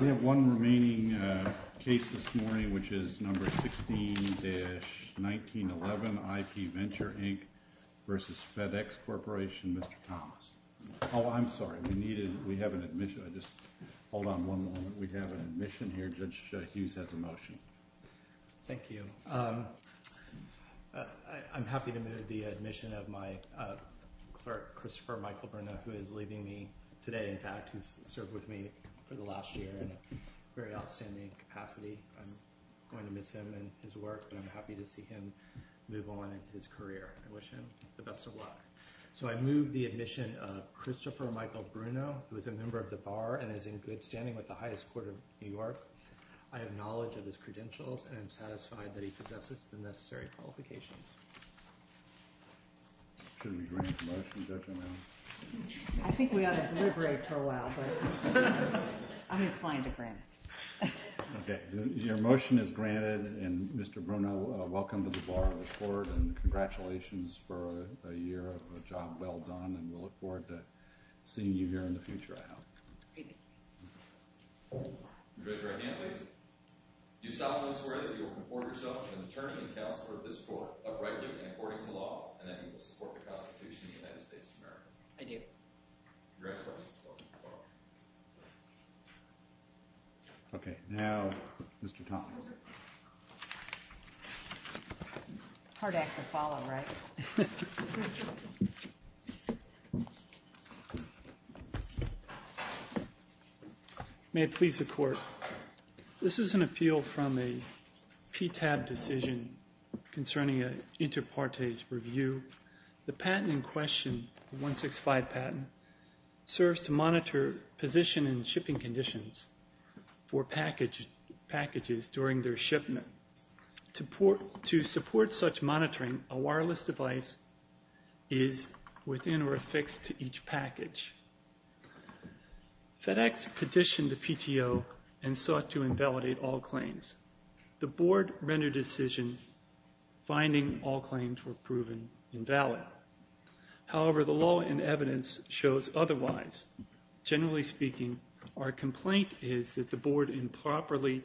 We have one remaining case this morning, which is number 16-1911, IpVenture, Inc. v. FedEx Corporation. Mr. Thomas. Oh, I'm sorry. We have an admission here. Judge Hughes has a motion. Thank you. I'm happy to move the admission of my clerk, Christopher Michael Burnett, who is leaving me today, in fact, who's served with me for the last year in a very outstanding capacity. I'm going to miss him and his work, but I'm happy to see him move on in his career. I wish him the best of luck. So I move the admission of Christopher Michael Bruno, who is a member of the Bar and is in good standing with the highest court of New York. I have knowledge of his credentials and am satisfied that he possesses the necessary qualifications. Should we grant the motion, Judge O'Malley? I think we ought to deliberate for a while, but I'm inclined to grant it. Okay. Your motion is granted, and Mr. Bruno, welcome to the Bar of the Court, and congratulations for a year of a job well done, and we look forward to seeing you here in the future, I hope. Thank you. Judge, right hand, please. Do you solemnly swear that you will comport yourself as an attorney and counselor of this court, uprightly and according to law, and that you will support the Constitution of the United States of America? I do. Congratulations. Okay. Now, Mr. Thomas. Hard act to follow, right? May it please the Court, this is an appeal from a PTAB decision concerning an inter partage review. The patent in question, the 165 patent, serves to monitor position and shipping conditions for packages during their shipment. To support such monitoring, a wireless device is within or affixed to each package. FedEx petitioned the PTO and sought to invalidate all claims. The Board rendered a decision, finding all claims were proven invalid. However, the law and evidence shows otherwise. Generally speaking, our complaint is that the Board improperly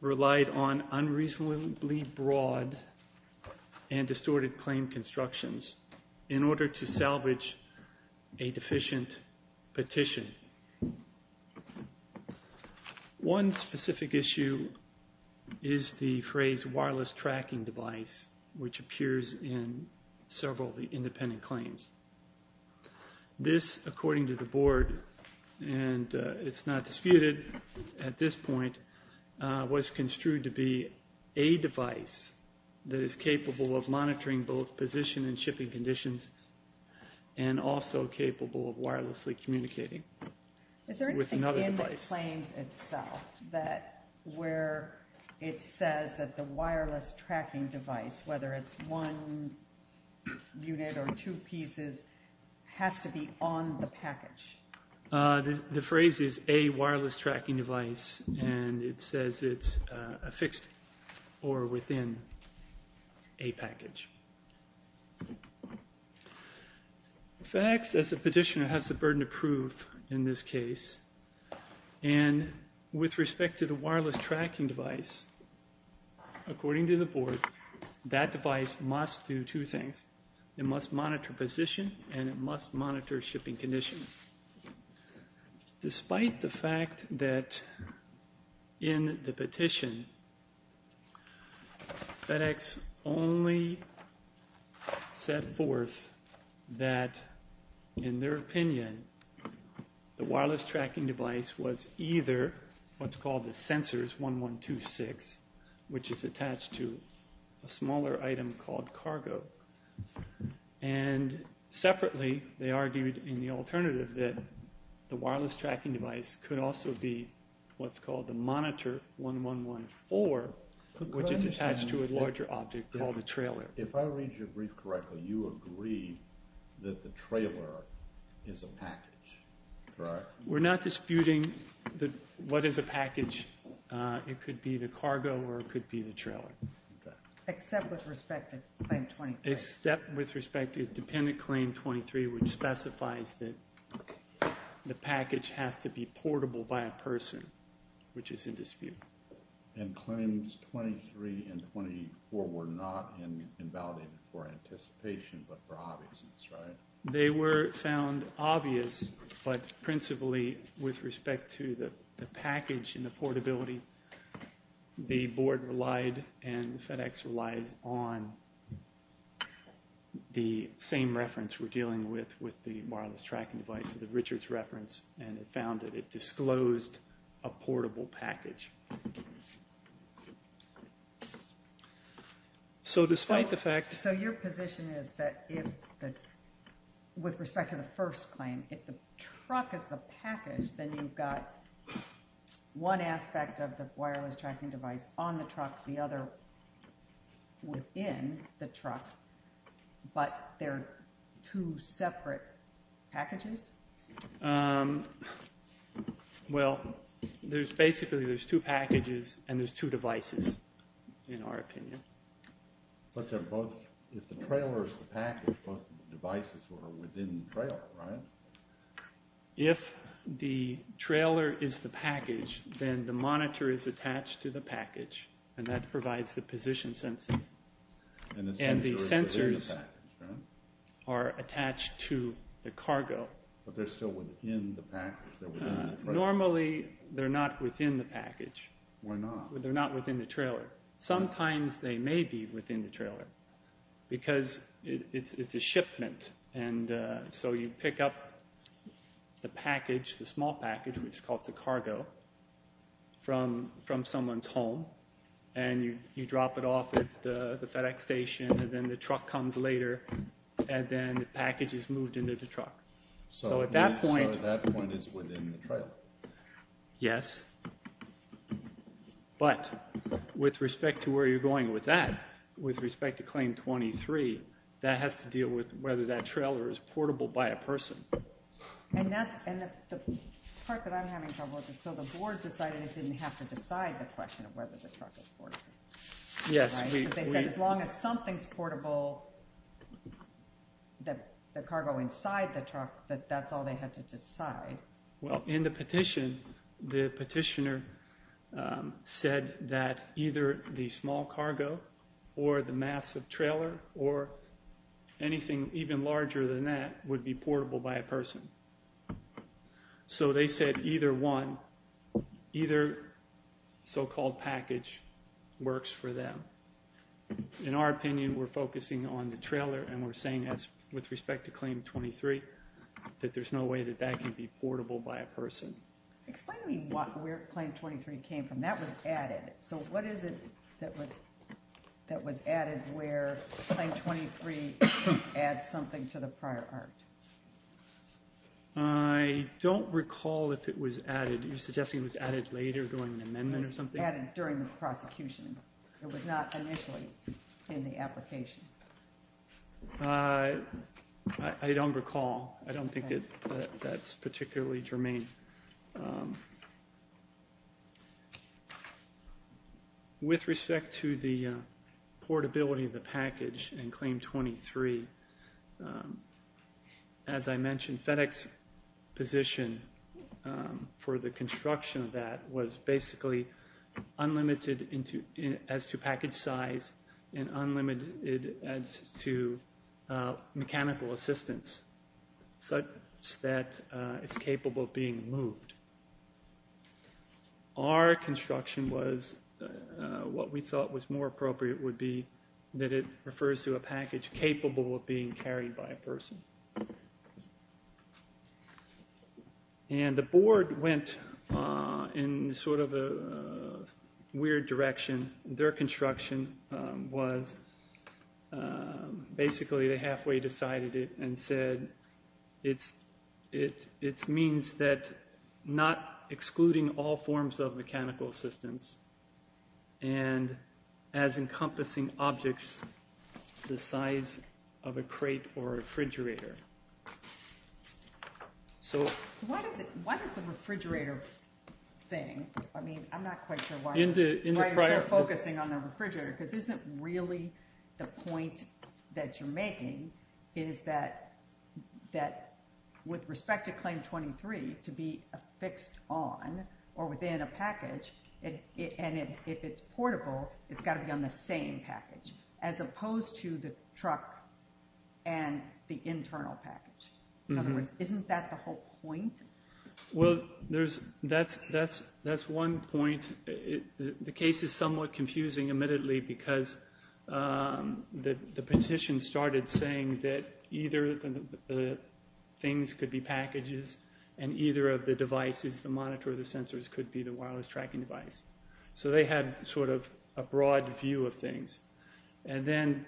relied on unreasonably broad and distorted claim constructions in order to salvage a deficient petition. One specific issue is the phrase, wireless tracking device, which appears in several of the independent claims. This, according to the Board, and it's not disputed at this point, was construed to be a device that is capable of monitoring both position and shipping conditions and also capable of wirelessly communicating with another device. Is there anything in the claims itself where it says that the wireless tracking device, whether it's one unit or two pieces, has to be on the package? The phrase is a wireless tracking device, and it says it's affixed or within a package. FedEx, as a petitioner, has the burden to prove in this case. And with respect to the wireless tracking device, according to the Board, that device must do two things. It must monitor position, and it must monitor shipping conditions. Despite the fact that in the petition, FedEx only set forth that, in their opinion, the wireless tracking device was either what's called the Sensors 1126, which is attached to a smaller item called cargo. And separately, they argued in the alternative that the wireless tracking device could also be what's called the Monitor 1114, which is attached to a larger object called a trailer. If I read your brief correctly, you agree that the trailer is a package, correct? We're not disputing what is a package. It could be the cargo, or it could be the trailer. Except with respect to Claim 23. Except with respect to dependent Claim 23, which specifies that the package has to be portable by a person, which is in dispute. And Claims 23 and 24 were not invalidated for anticipation, but for obviousness, right? They were found obvious, but principally with respect to the package and the portability, the Board relied and FedEx relies on the same reference we're dealing with, with the wireless tracking device, the Richards reference, and it found that it disclosed a portable package. So despite the fact... So your position is that with respect to the first claim, if the truck is the package, then you've got one aspect of the wireless tracking device on the truck, the other within the truck, but they're two separate packages? Well, basically there's two packages and there's two devices, in our opinion. But if the trailer is the package, both of the devices are within the trailer, right? If the trailer is the package, then the monitor is attached to the package, and that provides the position sensing. And the sensors are within the package, right? But they're still within the package? Normally, they're not within the package. Why not? They're not within the trailer. Sometimes they may be within the trailer, because it's a shipment, and so you pick up the package, the small package, which is called the cargo, from someone's home, and you drop it off at the FedEx station, and then the truck comes later, and then the package is moved into the truck. So at that point... So that point is within the trailer? Yes. But with respect to where you're going with that, with respect to Claim 23, that has to deal with whether that trailer is portable by a person. And that's, and the part that I'm having trouble with is, so the board decided it didn't have to decide the question of whether the truck was portable. Yes, we... But that's all they had to decide. Well, in the petition, the petitioner said that either the small cargo or the massive trailer or anything even larger than that would be portable by a person. So they said either one, either so-called package works for them. In our opinion, we're focusing on the trailer, and we're saying with respect to Claim 23 that there's no way that that can be portable by a person. Explain to me where Claim 23 came from. That was added. So what is it that was added where Claim 23 adds something to the prior art? I don't recall if it was added. You're suggesting it was added later during the amendment or something? It was added during the prosecution. It was not initially in the application. I don't recall. I don't think that that's particularly germane. With respect to the portability of the package in Claim 23, as I mentioned, FedEx's position for the construction of that was basically unlimited as to package size and unlimited as to mechanical assistance such that it's capable of being moved. Our construction was what we thought was more appropriate would be that it refers to a package capable of being carried by a person. And the board went in sort of a weird direction. Their construction was basically they halfway decided it and said it means that not excluding all forms of mechanical assistance and as encompassing objects the size of a crate or refrigerator. Why is the refrigerator thing? I'm not quite sure why you're focusing on the refrigerator because isn't really the point that you're making is that with respect to Claim 23 to be affixed on or within a package and if it's portable, it's got to be on the same package as opposed to the truck and the internal package. In other words, isn't that the whole point? Well, that's one point. The case is somewhat confusing admittedly because the petition started saying that either the things could be packages and either of the devices, the monitor or the sensors could be the wireless tracking device. So they had sort of a broad view of things. And then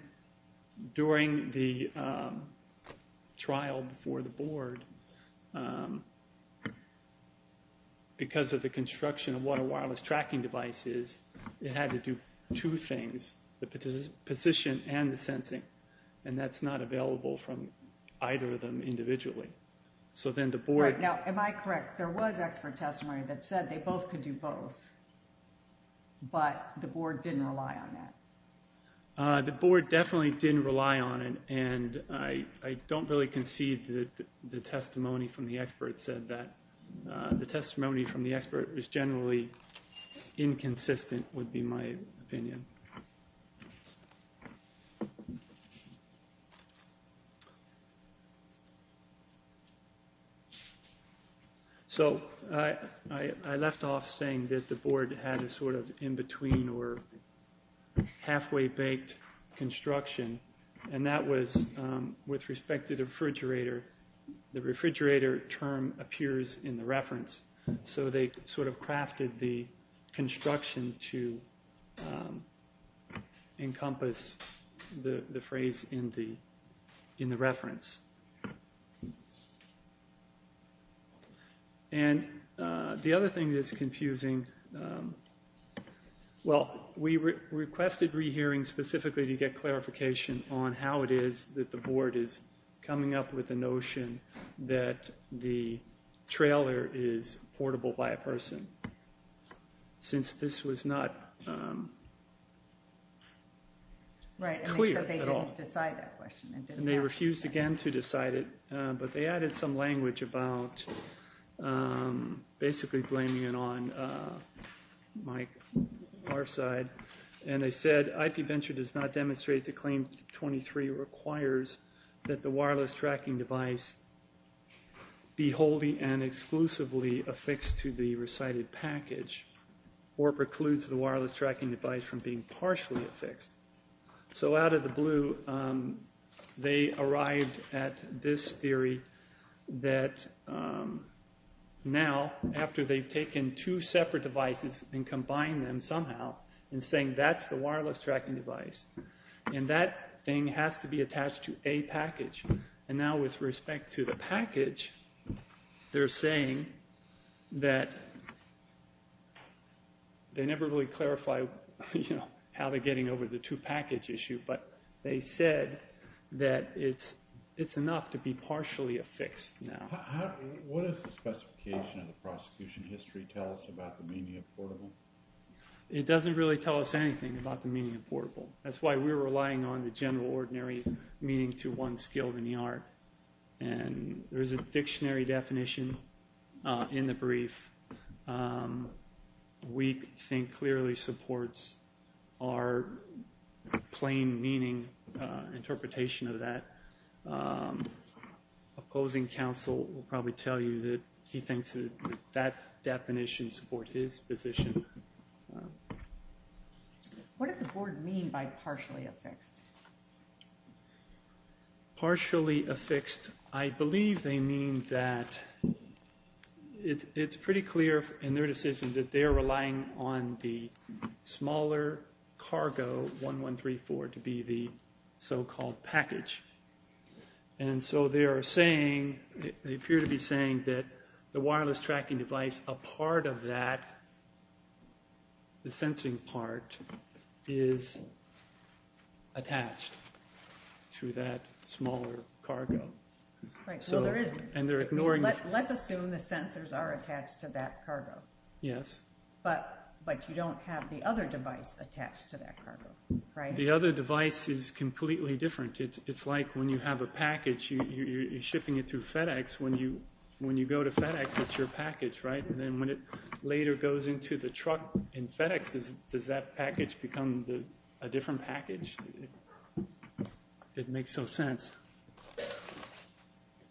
during the trial before the board, because of the construction of what a wireless tracking device is, it had to do two things, the position and the sensing. And that's not available from either of them individually. Am I correct? There was expert testimony that said they both could do both, but the board didn't rely on that. The board definitely didn't rely on it. And I don't really concede that the testimony from the expert said that. The testimony from the expert is generally inconsistent would be my opinion. So I left off saying that the board had a sort of in between or halfway baked construction. And that was with respect to the refrigerator. The refrigerator term appears in the reference. So they sort of crafted the construction to encompass the phrase in the reference. And the other thing that's confusing, well, we requested rehearing specifically to get clarification on how it is that the board is coming up with the notion that the trailer is portable by a person. Since this was not clear at all. And they refused again to decide it. But they added some language about basically blaming it on our side. And they said IP Venture does not demonstrate the claim 23 requires that the wireless tracking device be wholly and exclusively affixed to the recited package or precludes the wireless tracking device from being partially affixed. So out of the blue, they arrived at this theory that now, after they've taken two separate devices and combined them somehow and saying that's the wireless tracking device. And that thing has to be attached to a package. And now with respect to the package, they're saying that they never really clarify how they're getting over the two package issue. But they said that it's enough to be partially affixed now. What does the specification of the prosecution history tell us about the meaning of portable? It doesn't really tell us anything about the meaning of portable. That's why we're relying on the general ordinary meaning to one skilled in the art. And there is a dictionary definition in the brief. We think clearly supports our plain meaning interpretation of that. Opposing counsel will probably tell you that he thinks that that definition supports his position. What did the board mean by partially affixed? Partially affixed, I believe they mean that it's pretty clear in their decision that they're relying on the smaller cargo 1134 to be the so-called package. And so they're saying, they appear to be saying that the wireless tracking device, a part of that, the sensing part is attached to that smaller cargo. Let's assume the sensors are attached to that cargo. Yes. But you don't have the other device attached to that cargo, right? The other device is completely different. It's like when you have a package, you're shipping it through FedEx. When you go to FedEx, it's your package, right? And then when it later goes into the truck in FedEx, does that package become a different package? It makes no sense.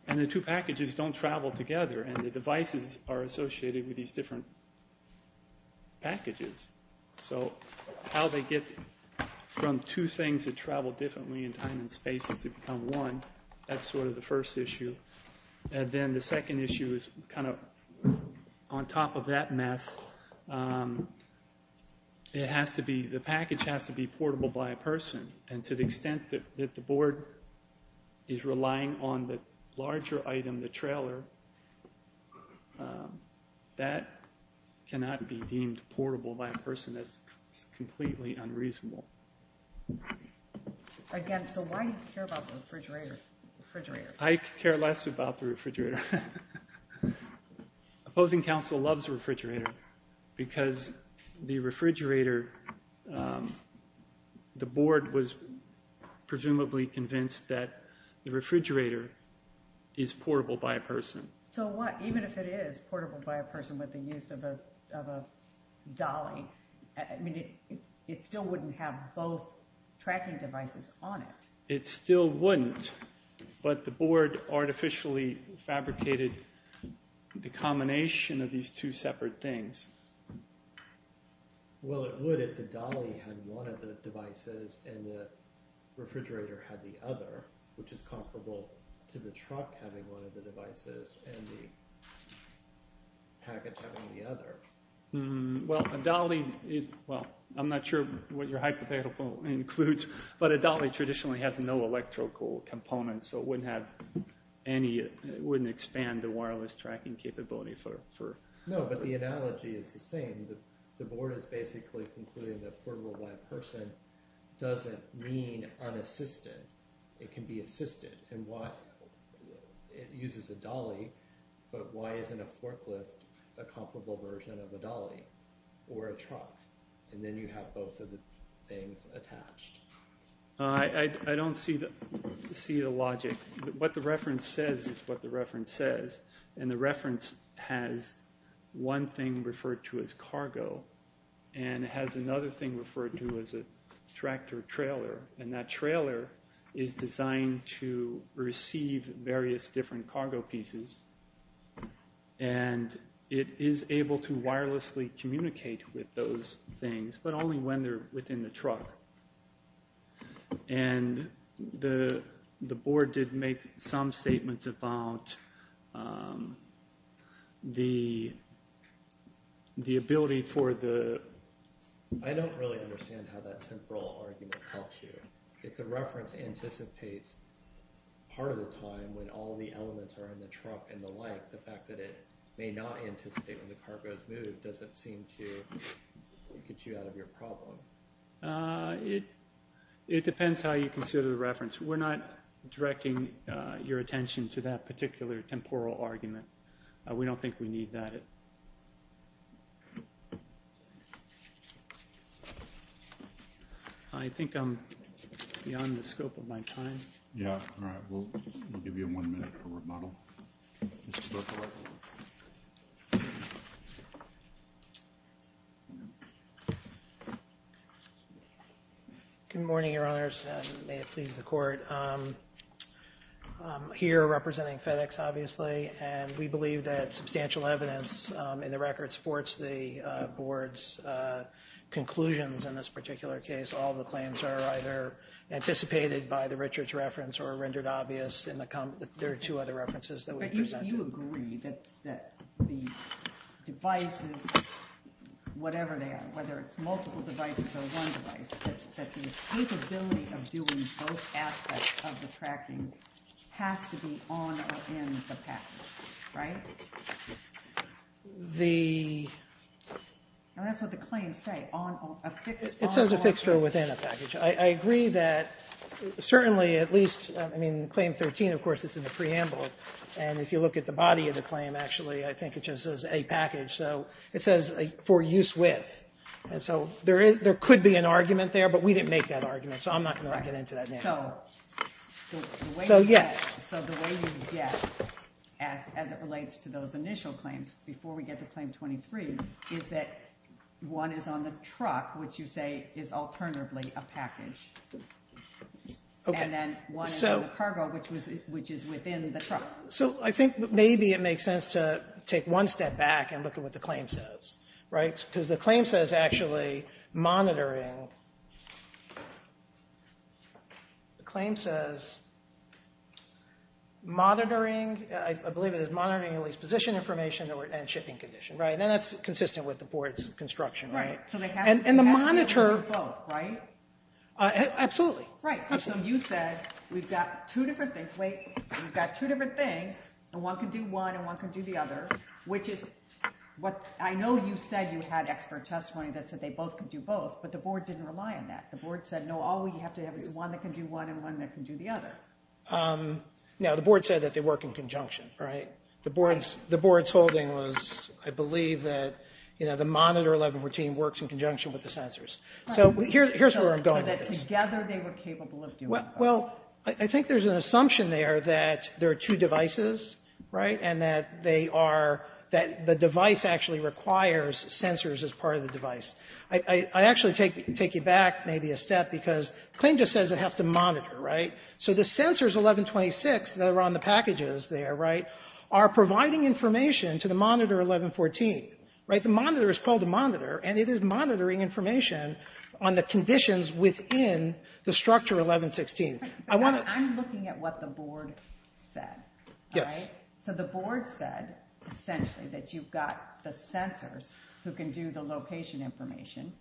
And the two packages don't travel together, and the devices are associated with these different packages. So how they get from two things that travel differently in time and space to become one, that's sort of the first issue. And then the second issue is kind of on top of that mess, it has to be, the package has to be portable by a person. And to the extent that the board is relying on the larger item, the trailer, that cannot be deemed portable by a person. That's completely unreasonable. Again, so why do you care about the refrigerator? I care less about the refrigerator. Opposing counsel loves the refrigerator because the refrigerator, the board was presumably convinced that the refrigerator is portable by a person. So what, even if it is portable by a person with the use of a dolly, it still wouldn't have both tracking devices on it. It still wouldn't, but the board artificially fabricated the combination of these two separate things. Well, it would if the dolly had one of the devices and the refrigerator had the other, which is comparable to the truck having one of the devices and the package having the other. Well, a dolly is, well, I'm not sure what your hypothetical includes, but a dolly traditionally has no electrical components, so it wouldn't have any, it wouldn't expand the wireless tracking capability for. No, but the analogy is the same. The board is basically concluding that portable by a person doesn't mean unassisted. It can be assisted, and why it uses a dolly, but why isn't a forklift a comparable version of a dolly or a truck, and then you have both of the things attached. I don't see the logic. What the reference says is what the reference says, and the reference has one thing referred to as cargo and has another thing referred to as a tractor trailer, and that trailer is designed to receive various different cargo pieces, and it is able to wirelessly communicate with those things, but only when they're within the truck, and the board did make some statements about the ability for the... If the reference anticipates part of the time when all the elements are in the truck and the like, the fact that it may not anticipate when the cargo is moved doesn't seem to get you out of your problem. It depends how you consider the reference. We're not directing your attention to that particular temporal argument. We don't think we need that. That's it. I think I'm beyond the scope of my time. Yeah, all right. We'll give you one minute for rebuttal. Mr. Berkowitz. Good morning, Your Honors, and may it please the Court. I'm here representing FedEx, obviously, and we believe that substantial evidence in the record supports the board's conclusions in this particular case. All the claims are either anticipated by the Richards reference or rendered obvious in the comment... There are two other references that we presented. But you agree that the devices, whatever they are, whether it's multiple devices or one device, that the capability of doing both aspects of the tracking has to be on or in the package, right? The... That's what the claims say. It says a fixture within a package. I agree that certainly at least, I mean, Claim 13, of course, is in the preamble. And if you look at the body of the claim, actually, I think it just says a package. So it says for use with. And so there could be an argument there, but we didn't make that argument, so I'm not going to get into that now. So the way you get, as it relates to those initial claims, before we get to Claim 23, is that one is on the truck, which you say is alternatively a package. And then one is on the cargo, which is within the truck. So I think maybe it makes sense to take one step back and look at what the claim says, right? Because the claim says actually monitoring. The claim says monitoring. I believe it is monitoring at least position information and shipping condition, right? And that's consistent with the board's construction, right? And the monitor... Absolutely. Right. So you said we've got two different things. Wait. We've got two different things, and one can do one and one can do the other, which is what... I know you said you had expert testimony that said they both could do both, but the board didn't rely on that. The board said, no, all we have to have is one that can do one and one that can do the other. No, the board said that they work in conjunction, right? The board's holding was, I believe, that the monitor 1114 works in conjunction with the sensors. So here's where I'm going with this. So that together they were capable of doing both. Well, I think there's an assumption there that there are two devices, right, and that they are... that the device actually requires sensors as part of the device. I actually take you back maybe a step, because the claim just says it has to monitor, right? So the sensors 1126 that are on the packages there, right, are providing information to the monitor 1114, right? The monitor is called the monitor, and it is monitoring information on the conditions within the structure 1116. I want to... I'm looking at what the board said, all right? So the board said, essentially, that you've got the sensors who can do the location information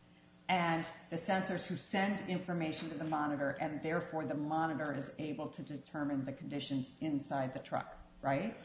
and the sensors who send information to the monitor, and therefore the monitor is able to determine the conditions inside the truck, right?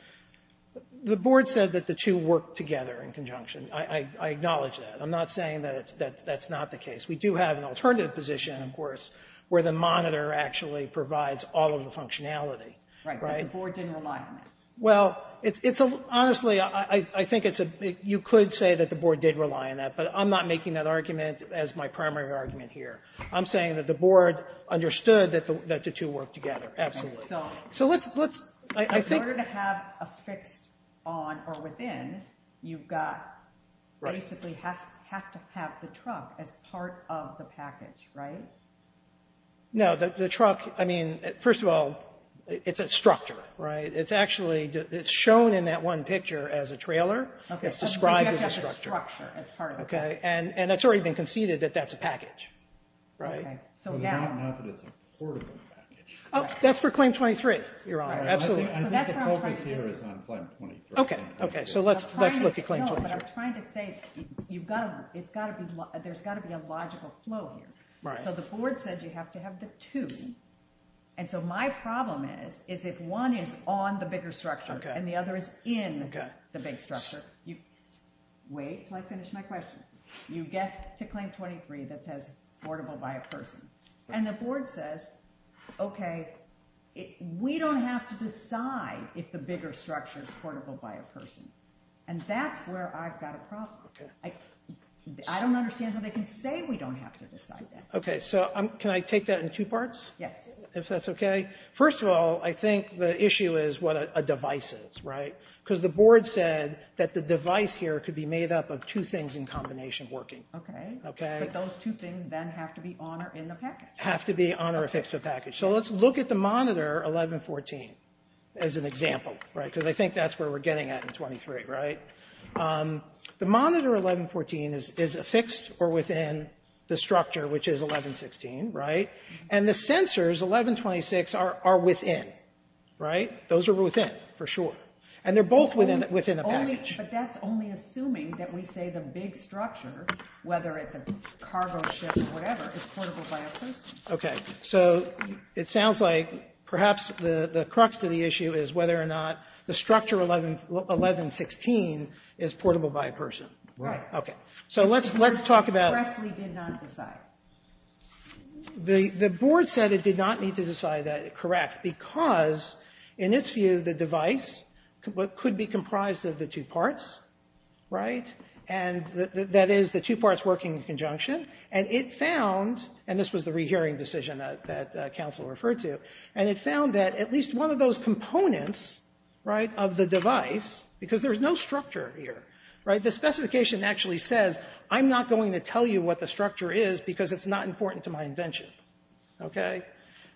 The board said that the two work together in conjunction. I acknowledge that. I'm not saying that that's not the case. We do have an alternative position, of course, where the monitor actually provides all of the functionality, right? The board didn't rely on that. Well, it's a... Honestly, I think it's a... You could say that the board did rely on that, but I'm not making that argument as my primary argument here. I'm saying that the board understood that the two work together. Absolutely. So let's... In order to have a fixed on or within, you've got... Right. Basically have to have the truck as part of the package, right? No, the truck... Right. It's actually shown in that one picture as a trailer. It's described as a structure. Okay. And it's already been conceded that that's a package, right? Okay. So now... Oh, that's for Claim 23, Your Honor. Absolutely. I think the focus here is on Claim 23. Okay. Okay. So let's look at Claim 23. No, but I'm trying to say you've got to... There's got to be a logical flow here. Right. So the board said you have to have the two, and so my problem is, is if one is on the bigger structure...... and the other is in the big structure... Okay. Wait until I finish my question. You get to Claim 23 that says portable by a person, and the board says, okay, we don't have to decide if the bigger structure is portable by a person, and that's where I've got a problem. Okay. I don't understand how they can say we don't have to decide that. Okay. So can I take that in two parts? Yes. If that's okay. First of all, I think the issue is what a device is, right, because the board said that the device here could be made up of two things in combination working. Okay. Okay. But those two things then have to be on or in the package. Have to be on or affixed to the package. So let's look at the monitor 1114 as an example, right, because I think that's where we're getting at in 23, right? The monitor 1114 is affixed or within the structure, which is 1116, right? And the sensors, 1126, are within, right? Those are within, for sure. And they're both within the package. But that's only assuming that we say the big structure, whether it's a cargo ship or whatever, is portable by a person. Okay. So it sounds like perhaps the crux of the issue is whether or not the structure 1116 is portable by a person. Right. Okay. So let's talk about. Expressly did not decide. The board said it did not need to decide that, correct, because in its view the device could be comprised of the two parts, right, and that is the two parts working in conjunction. And it found, and this was the rehearing decision that counsel referred to, and it found that at least one of those components, right, of the device, because there's no structure here, right, the specification actually says I'm not going to tell you what the structure is because it's not important to my invention. Okay.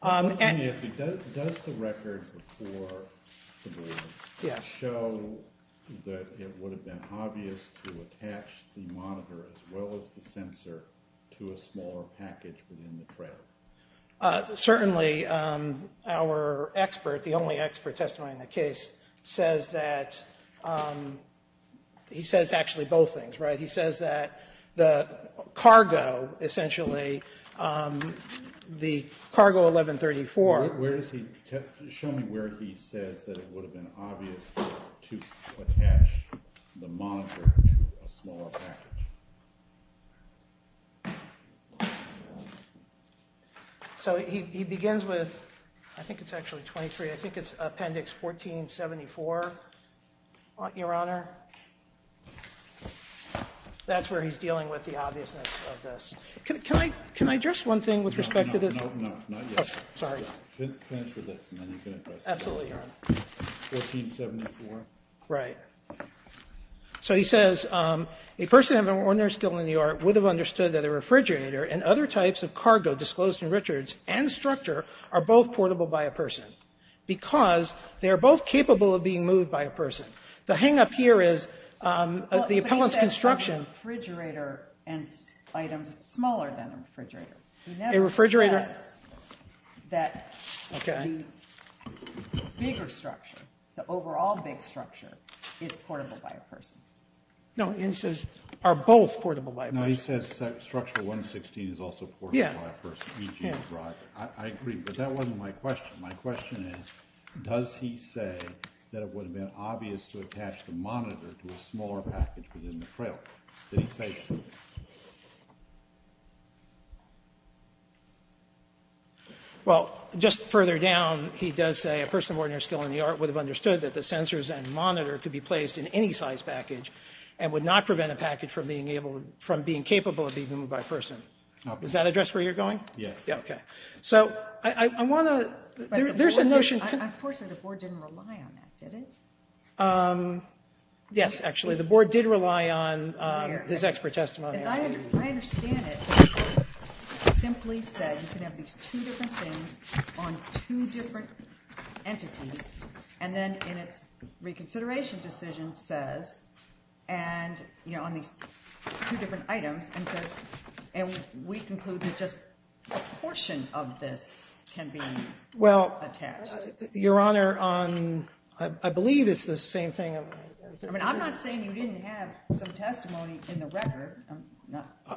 Does the record before the board show that it would have been obvious to attach the monitor as well as the sensor to a smaller package within the trailer? Certainly our expert, the only expert testifying in the case, says that he says actually both things, right. He says that the cargo essentially, the cargo 1134. Where does he, show me where he says that it would have been obvious to attach the monitor to a smaller package. So he begins with, I think it's actually 23, I think it's appendix 1474, Your Honor. That's where he's dealing with the obviousness of this. Can I address one thing with respect to this? No, not yet. Sorry. Finish with this and then you can address it. Absolutely, Your Honor. 1474. Right. So he says a person having an ordinary skill in the art would have understood that a refrigerator and other types of cargo disclosed in Richards and structure are both portable by a person because they are both capable of being moved by a person. The hang-up here is the appellant's construction. But he says refrigerator and items smaller than a refrigerator. A refrigerator? He never says that the bigger structure, the overall big structure, is portable by a person. No, he says are both portable by a person. No, he says structure 116 is also portable by a person, e.g. a driver. I agree, but that wasn't my question. My question is does he say that it would have been obvious to attach the monitor to a smaller package within the trailer? Did he say that? Well, just further down, he does say a person of ordinary skill in the art would have understood that the sensors and monitor could be placed in any size package and would not prevent a package from being capable of being moved by a person. Does that address where you're going? Yes. Okay. So I want to, there's a notion. Unfortunately, the board didn't rely on that, did it? Yes, actually. The board did rely on his expert testimony. I understand it simply said you can have these two different things on two different entities, and then in its reconsideration decision says, and on these two different items, and we conclude that just a portion of this can be attached. Your Honor, I believe it's the same thing. I'm not saying you didn't have some testimony in the record.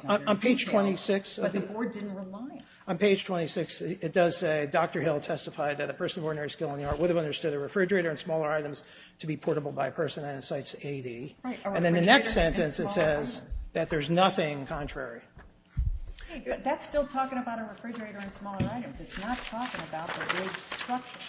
On page 26. But the board didn't rely on it. On page 26, it does say Dr. Hill testified that a person of ordinary skill in the art would have understood a refrigerator and smaller items to be portable by a person, and it cites AD. And then the next sentence, it says that there's nothing contrary. That's still talking about a refrigerator and smaller items. It's not talking about the big structure.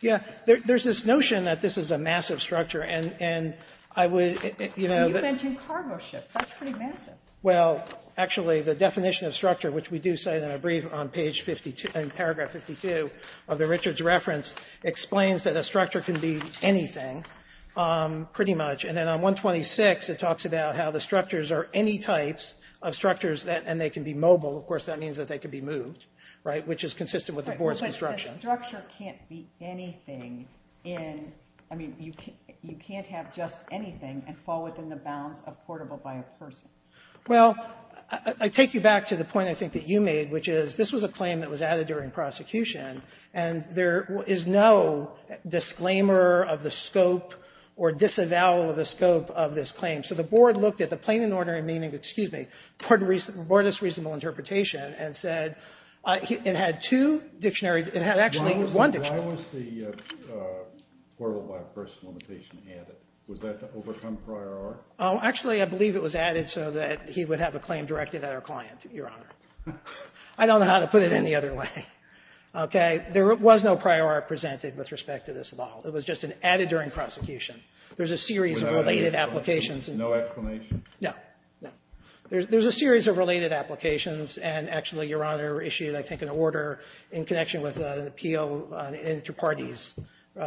Yeah. There's this notion that this is a massive structure, and I would, you know. You mentioned cargo ships. That's pretty massive. Well, actually, the definition of structure, which we do cite in a brief on page 52, in paragraph 52 of the Richards reference, explains that a structure can be anything, pretty much. And then on 126, it talks about how the structures are any types of structures, and they can be mobile. Of course, that means that they can be moved, right, which is consistent with the board's construction. But the structure can't be anything in, I mean, you can't have just anything and fall within the bounds of portable by a person. Well, I take you back to the point, I think, that you made, which is this was a claim that was added during prosecution, and there is no disclaimer of the scope or disavowal of the scope of this claim. So the board looked at the plain and ordinary meaning, excuse me, boardest reasonable interpretation, and said it had two dictionaries. It had actually one dictionary. Why was the portable by a person limitation added? Was that to overcome prior art? Oh, actually, I believe it was added so that he would have a claim directed at our client, Your Honor. I don't know how to put it any other way. There was no prior art presented with respect to this at all. It was just an added during prosecution. There's a series of related applications. No explanation? No, no. There's a series of related applications. And actually, Your Honor issued, I think, an order in connection with an appeal to parties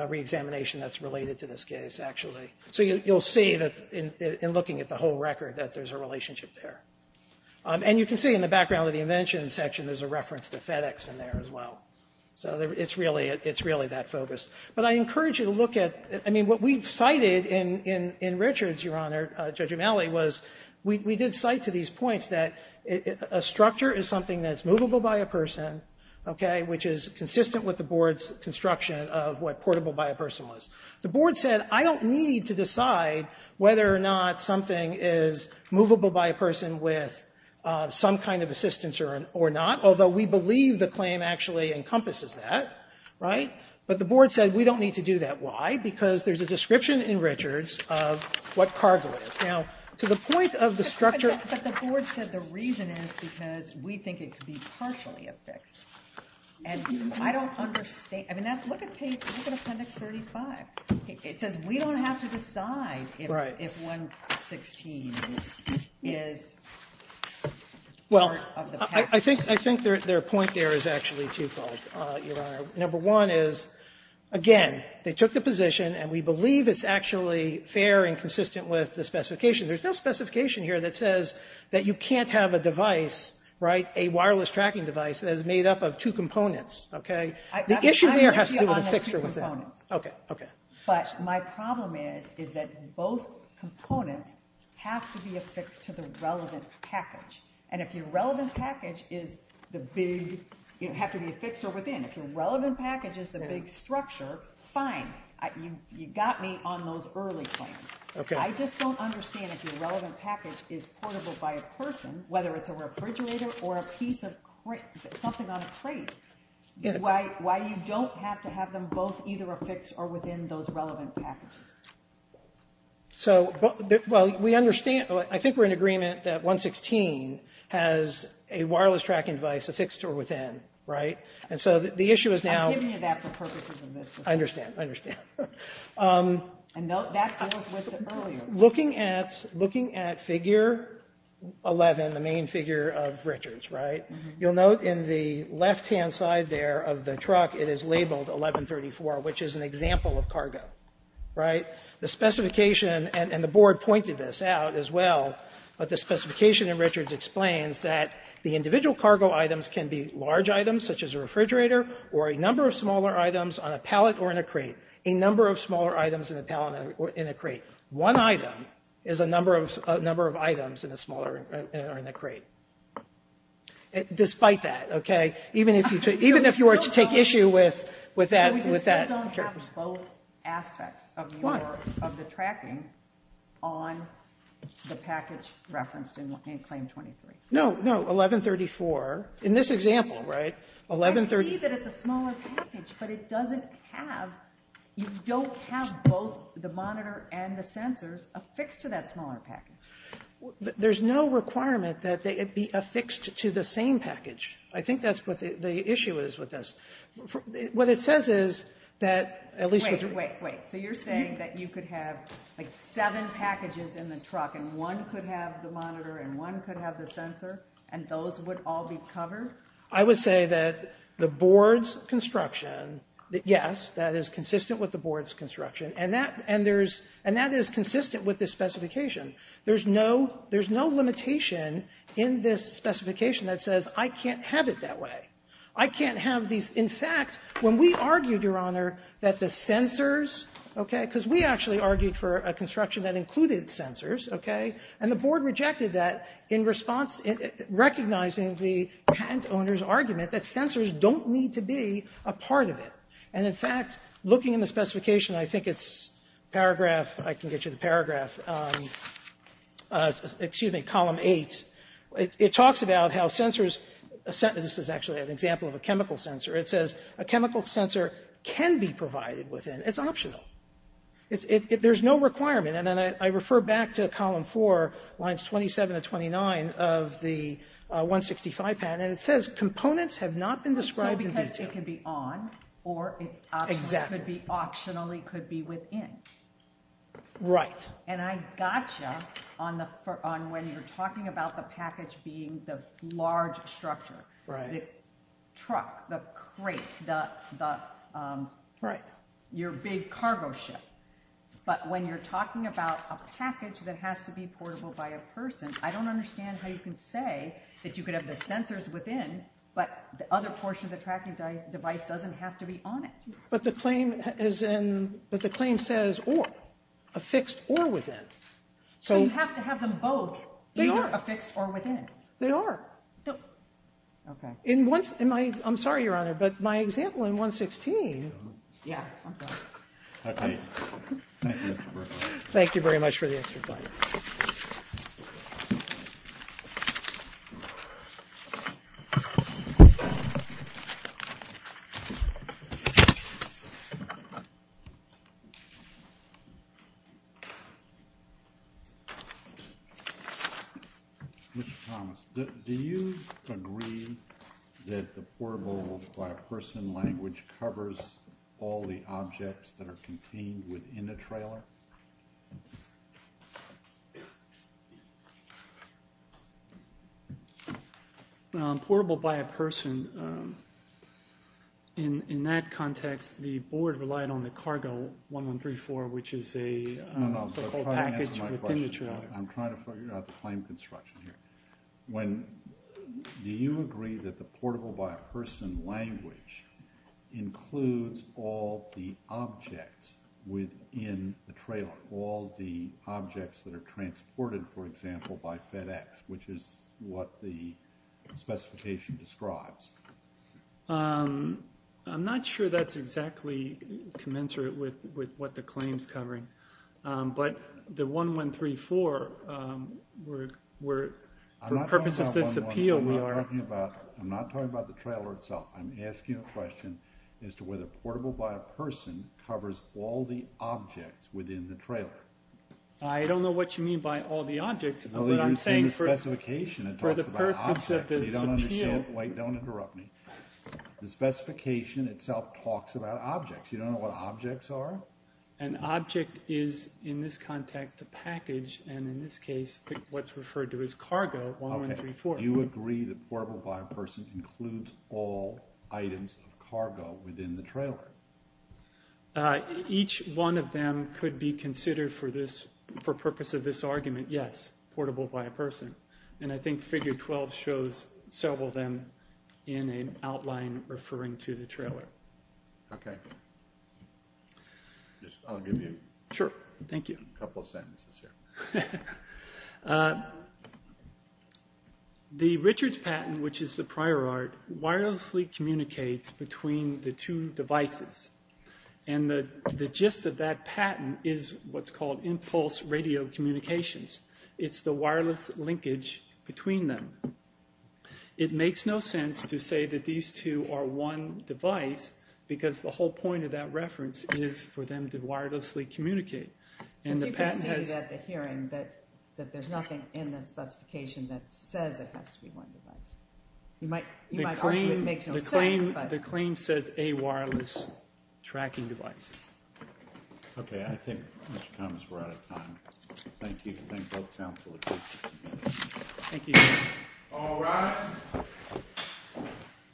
reexamination that's related to this case, actually. So you'll see that in looking at the whole record that there's a relationship there. And you can see in the background of the invention section, there's a reference to FedEx in there as well. So it's really that focus. But I encourage you to look at, I mean, what we've cited in Richard's, Your Honor, Judge Umeli, was we did cite to these points that a structure is something that's movable by a person, which is consistent with the board's construction of what portable by a person was. The board said, I don't need to decide whether or not something is movable by a person with some kind of assistance or not, although we believe the claim actually encompasses that, right? But the board said, we don't need to do that. Why? Because there's a description in Richard's of what cargo is. Now, to the point of the structure. But the board said the reason is because we think it could be partially affixed. And I don't understand. I mean, look at appendix 35. It says, we don't have to decide if 116 is part of the package. Well, I think their point there is actually twofold, Your Honor. Number one is, again, they took the position, and we believe it's actually fair and consistent with the specification. There's no specification here that says that you can't have a device, right, a wireless tracking device that is made up of two components, OK? The issue there has to do with the fixture within. I agree on the two components. OK, OK. But my problem is that both components have to be affixed to the relevant package. And if your relevant package is the big, you have to be a fixture within. If your relevant package is the big structure, fine. You got me on those early claims. I just don't understand if your relevant package is portable by a person, whether it's a refrigerator or a piece of something on a plate, why you don't have to have them both either affixed or within those relevant packages. So, well, we understand. I think we're in agreement that 116 has a wireless tracking device affixed or within, right? And so the issue is now. I'm giving you that for purposes of this discussion. I understand. I understand. And that was listed earlier. Looking at figure 11, the main figure of Richards, right? You'll note in the left-hand side there of the truck, it is labeled 1134, which is an example of cargo, right? The specification, and the board pointed this out as well, but the specification in Richards explains that the individual cargo items can be large items, such as a refrigerator, or a number of smaller items on a pallet or in a crate. A number of smaller items in a pallet or in a crate. One item is a number of items in a smaller or in a crate. Despite that, okay? Even if you were to take issue with that. We just don't have both aspects of the tracking on the package referenced in Claim 23. No, no. 1134, in this example, right? I see that it's a smaller package, but it doesn't have, you don't have both the monitor and the sensors affixed to that smaller package. There's no requirement that it be affixed to the same package. I think that's what the issue is with this. What it says is that at least. Wait, wait, wait. So you're saying that you could have like seven packages in the truck, and one could have the monitor, and one could have the sensor, and those would all be covered? I would say that the Board's construction, yes, that is consistent with the Board's construction, and that is consistent with this specification. There's no limitation in this specification that says I can't have it that way. I can't have these. In fact, when we argued, Your Honor, that the sensors, okay, because we actually argued for a construction that included sensors, okay, and the Board rejected that in response, recognizing the patent owner's argument that sensors don't need to be a part of it. And, in fact, looking in the specification, I think it's paragraph, if I can get you the paragraph, excuse me, column eight. It talks about how sensors, this is actually an example of a chemical sensor. It says a chemical sensor can be provided within. It's optional. There's no requirement. And then I refer back to column four, lines 27 to 29 of the 165 patent, and it says components have not been described in detail. It could be on or it could be optionally within. Right. And I got you on when you're talking about the package being the large structure, the truck, the crate, your big cargo ship. But when you're talking about a package that has to be portable by a person, I don't understand how you can say that you could have the sensors within, but the other portion of the tracking device doesn't have to be on it. But the claim says affixed or within. So you have to have them both. They are. They are affixed or within. They are. No. Okay. I'm sorry, Your Honor, but my example in 116. Yeah. Okay. Thank you, Mr. Berkowitz. Thank you very much for the explanation. Thank you. Mr. Thomas, do you agree that the portable by a person language covers all the objects that are contained within a trailer? Portable by a person. In that context, the board relied on the cargo 1134, which is a so-called package within the trailer. I'm trying to figure out the claim construction here. Do you agree that the portable by a person language includes all the objects within the trailer, all the objects that are transported, for example, by FedEx, which is what the specification describes? I'm not sure that's exactly commensurate with what the claim is covering. But the 1134, for purposes of this appeal, we are. I'm not talking about the trailer itself. I'm asking a question as to whether portable by a person covers all the objects within the trailer. I don't know what you mean by all the objects. What I'm saying for the purpose of this appeal. You don't understand. Wait. Don't interrupt me. The specification itself talks about objects. You don't know what objects are? An object is, in this context, a package. In this case, what's referred to as cargo, 1134. Do you agree that portable by a person includes all items of cargo within the trailer? Each one of them could be considered for purpose of this argument, yes, portable by a person. I think figure 12 shows several of them in an outline referring to the trailer. Okay. I'll give you a couple of sentences here. Sure. Thank you. The Richards patent, which is the prior art, wirelessly communicates between the two devices. And the gist of that patent is what's called impulse radio communications. It's the wireless linkage between them. It makes no sense to say that these two are one device, because the whole point of that reference is for them to wirelessly communicate. And the patent has- But you could say at the hearing that there's nothing in the specification that says it has to be one device. You might argue it makes no sense, but- The claim says a wireless tracking device. Okay. I think Mr. Thomas, we're out of time. Thank you. Thank you. All rise.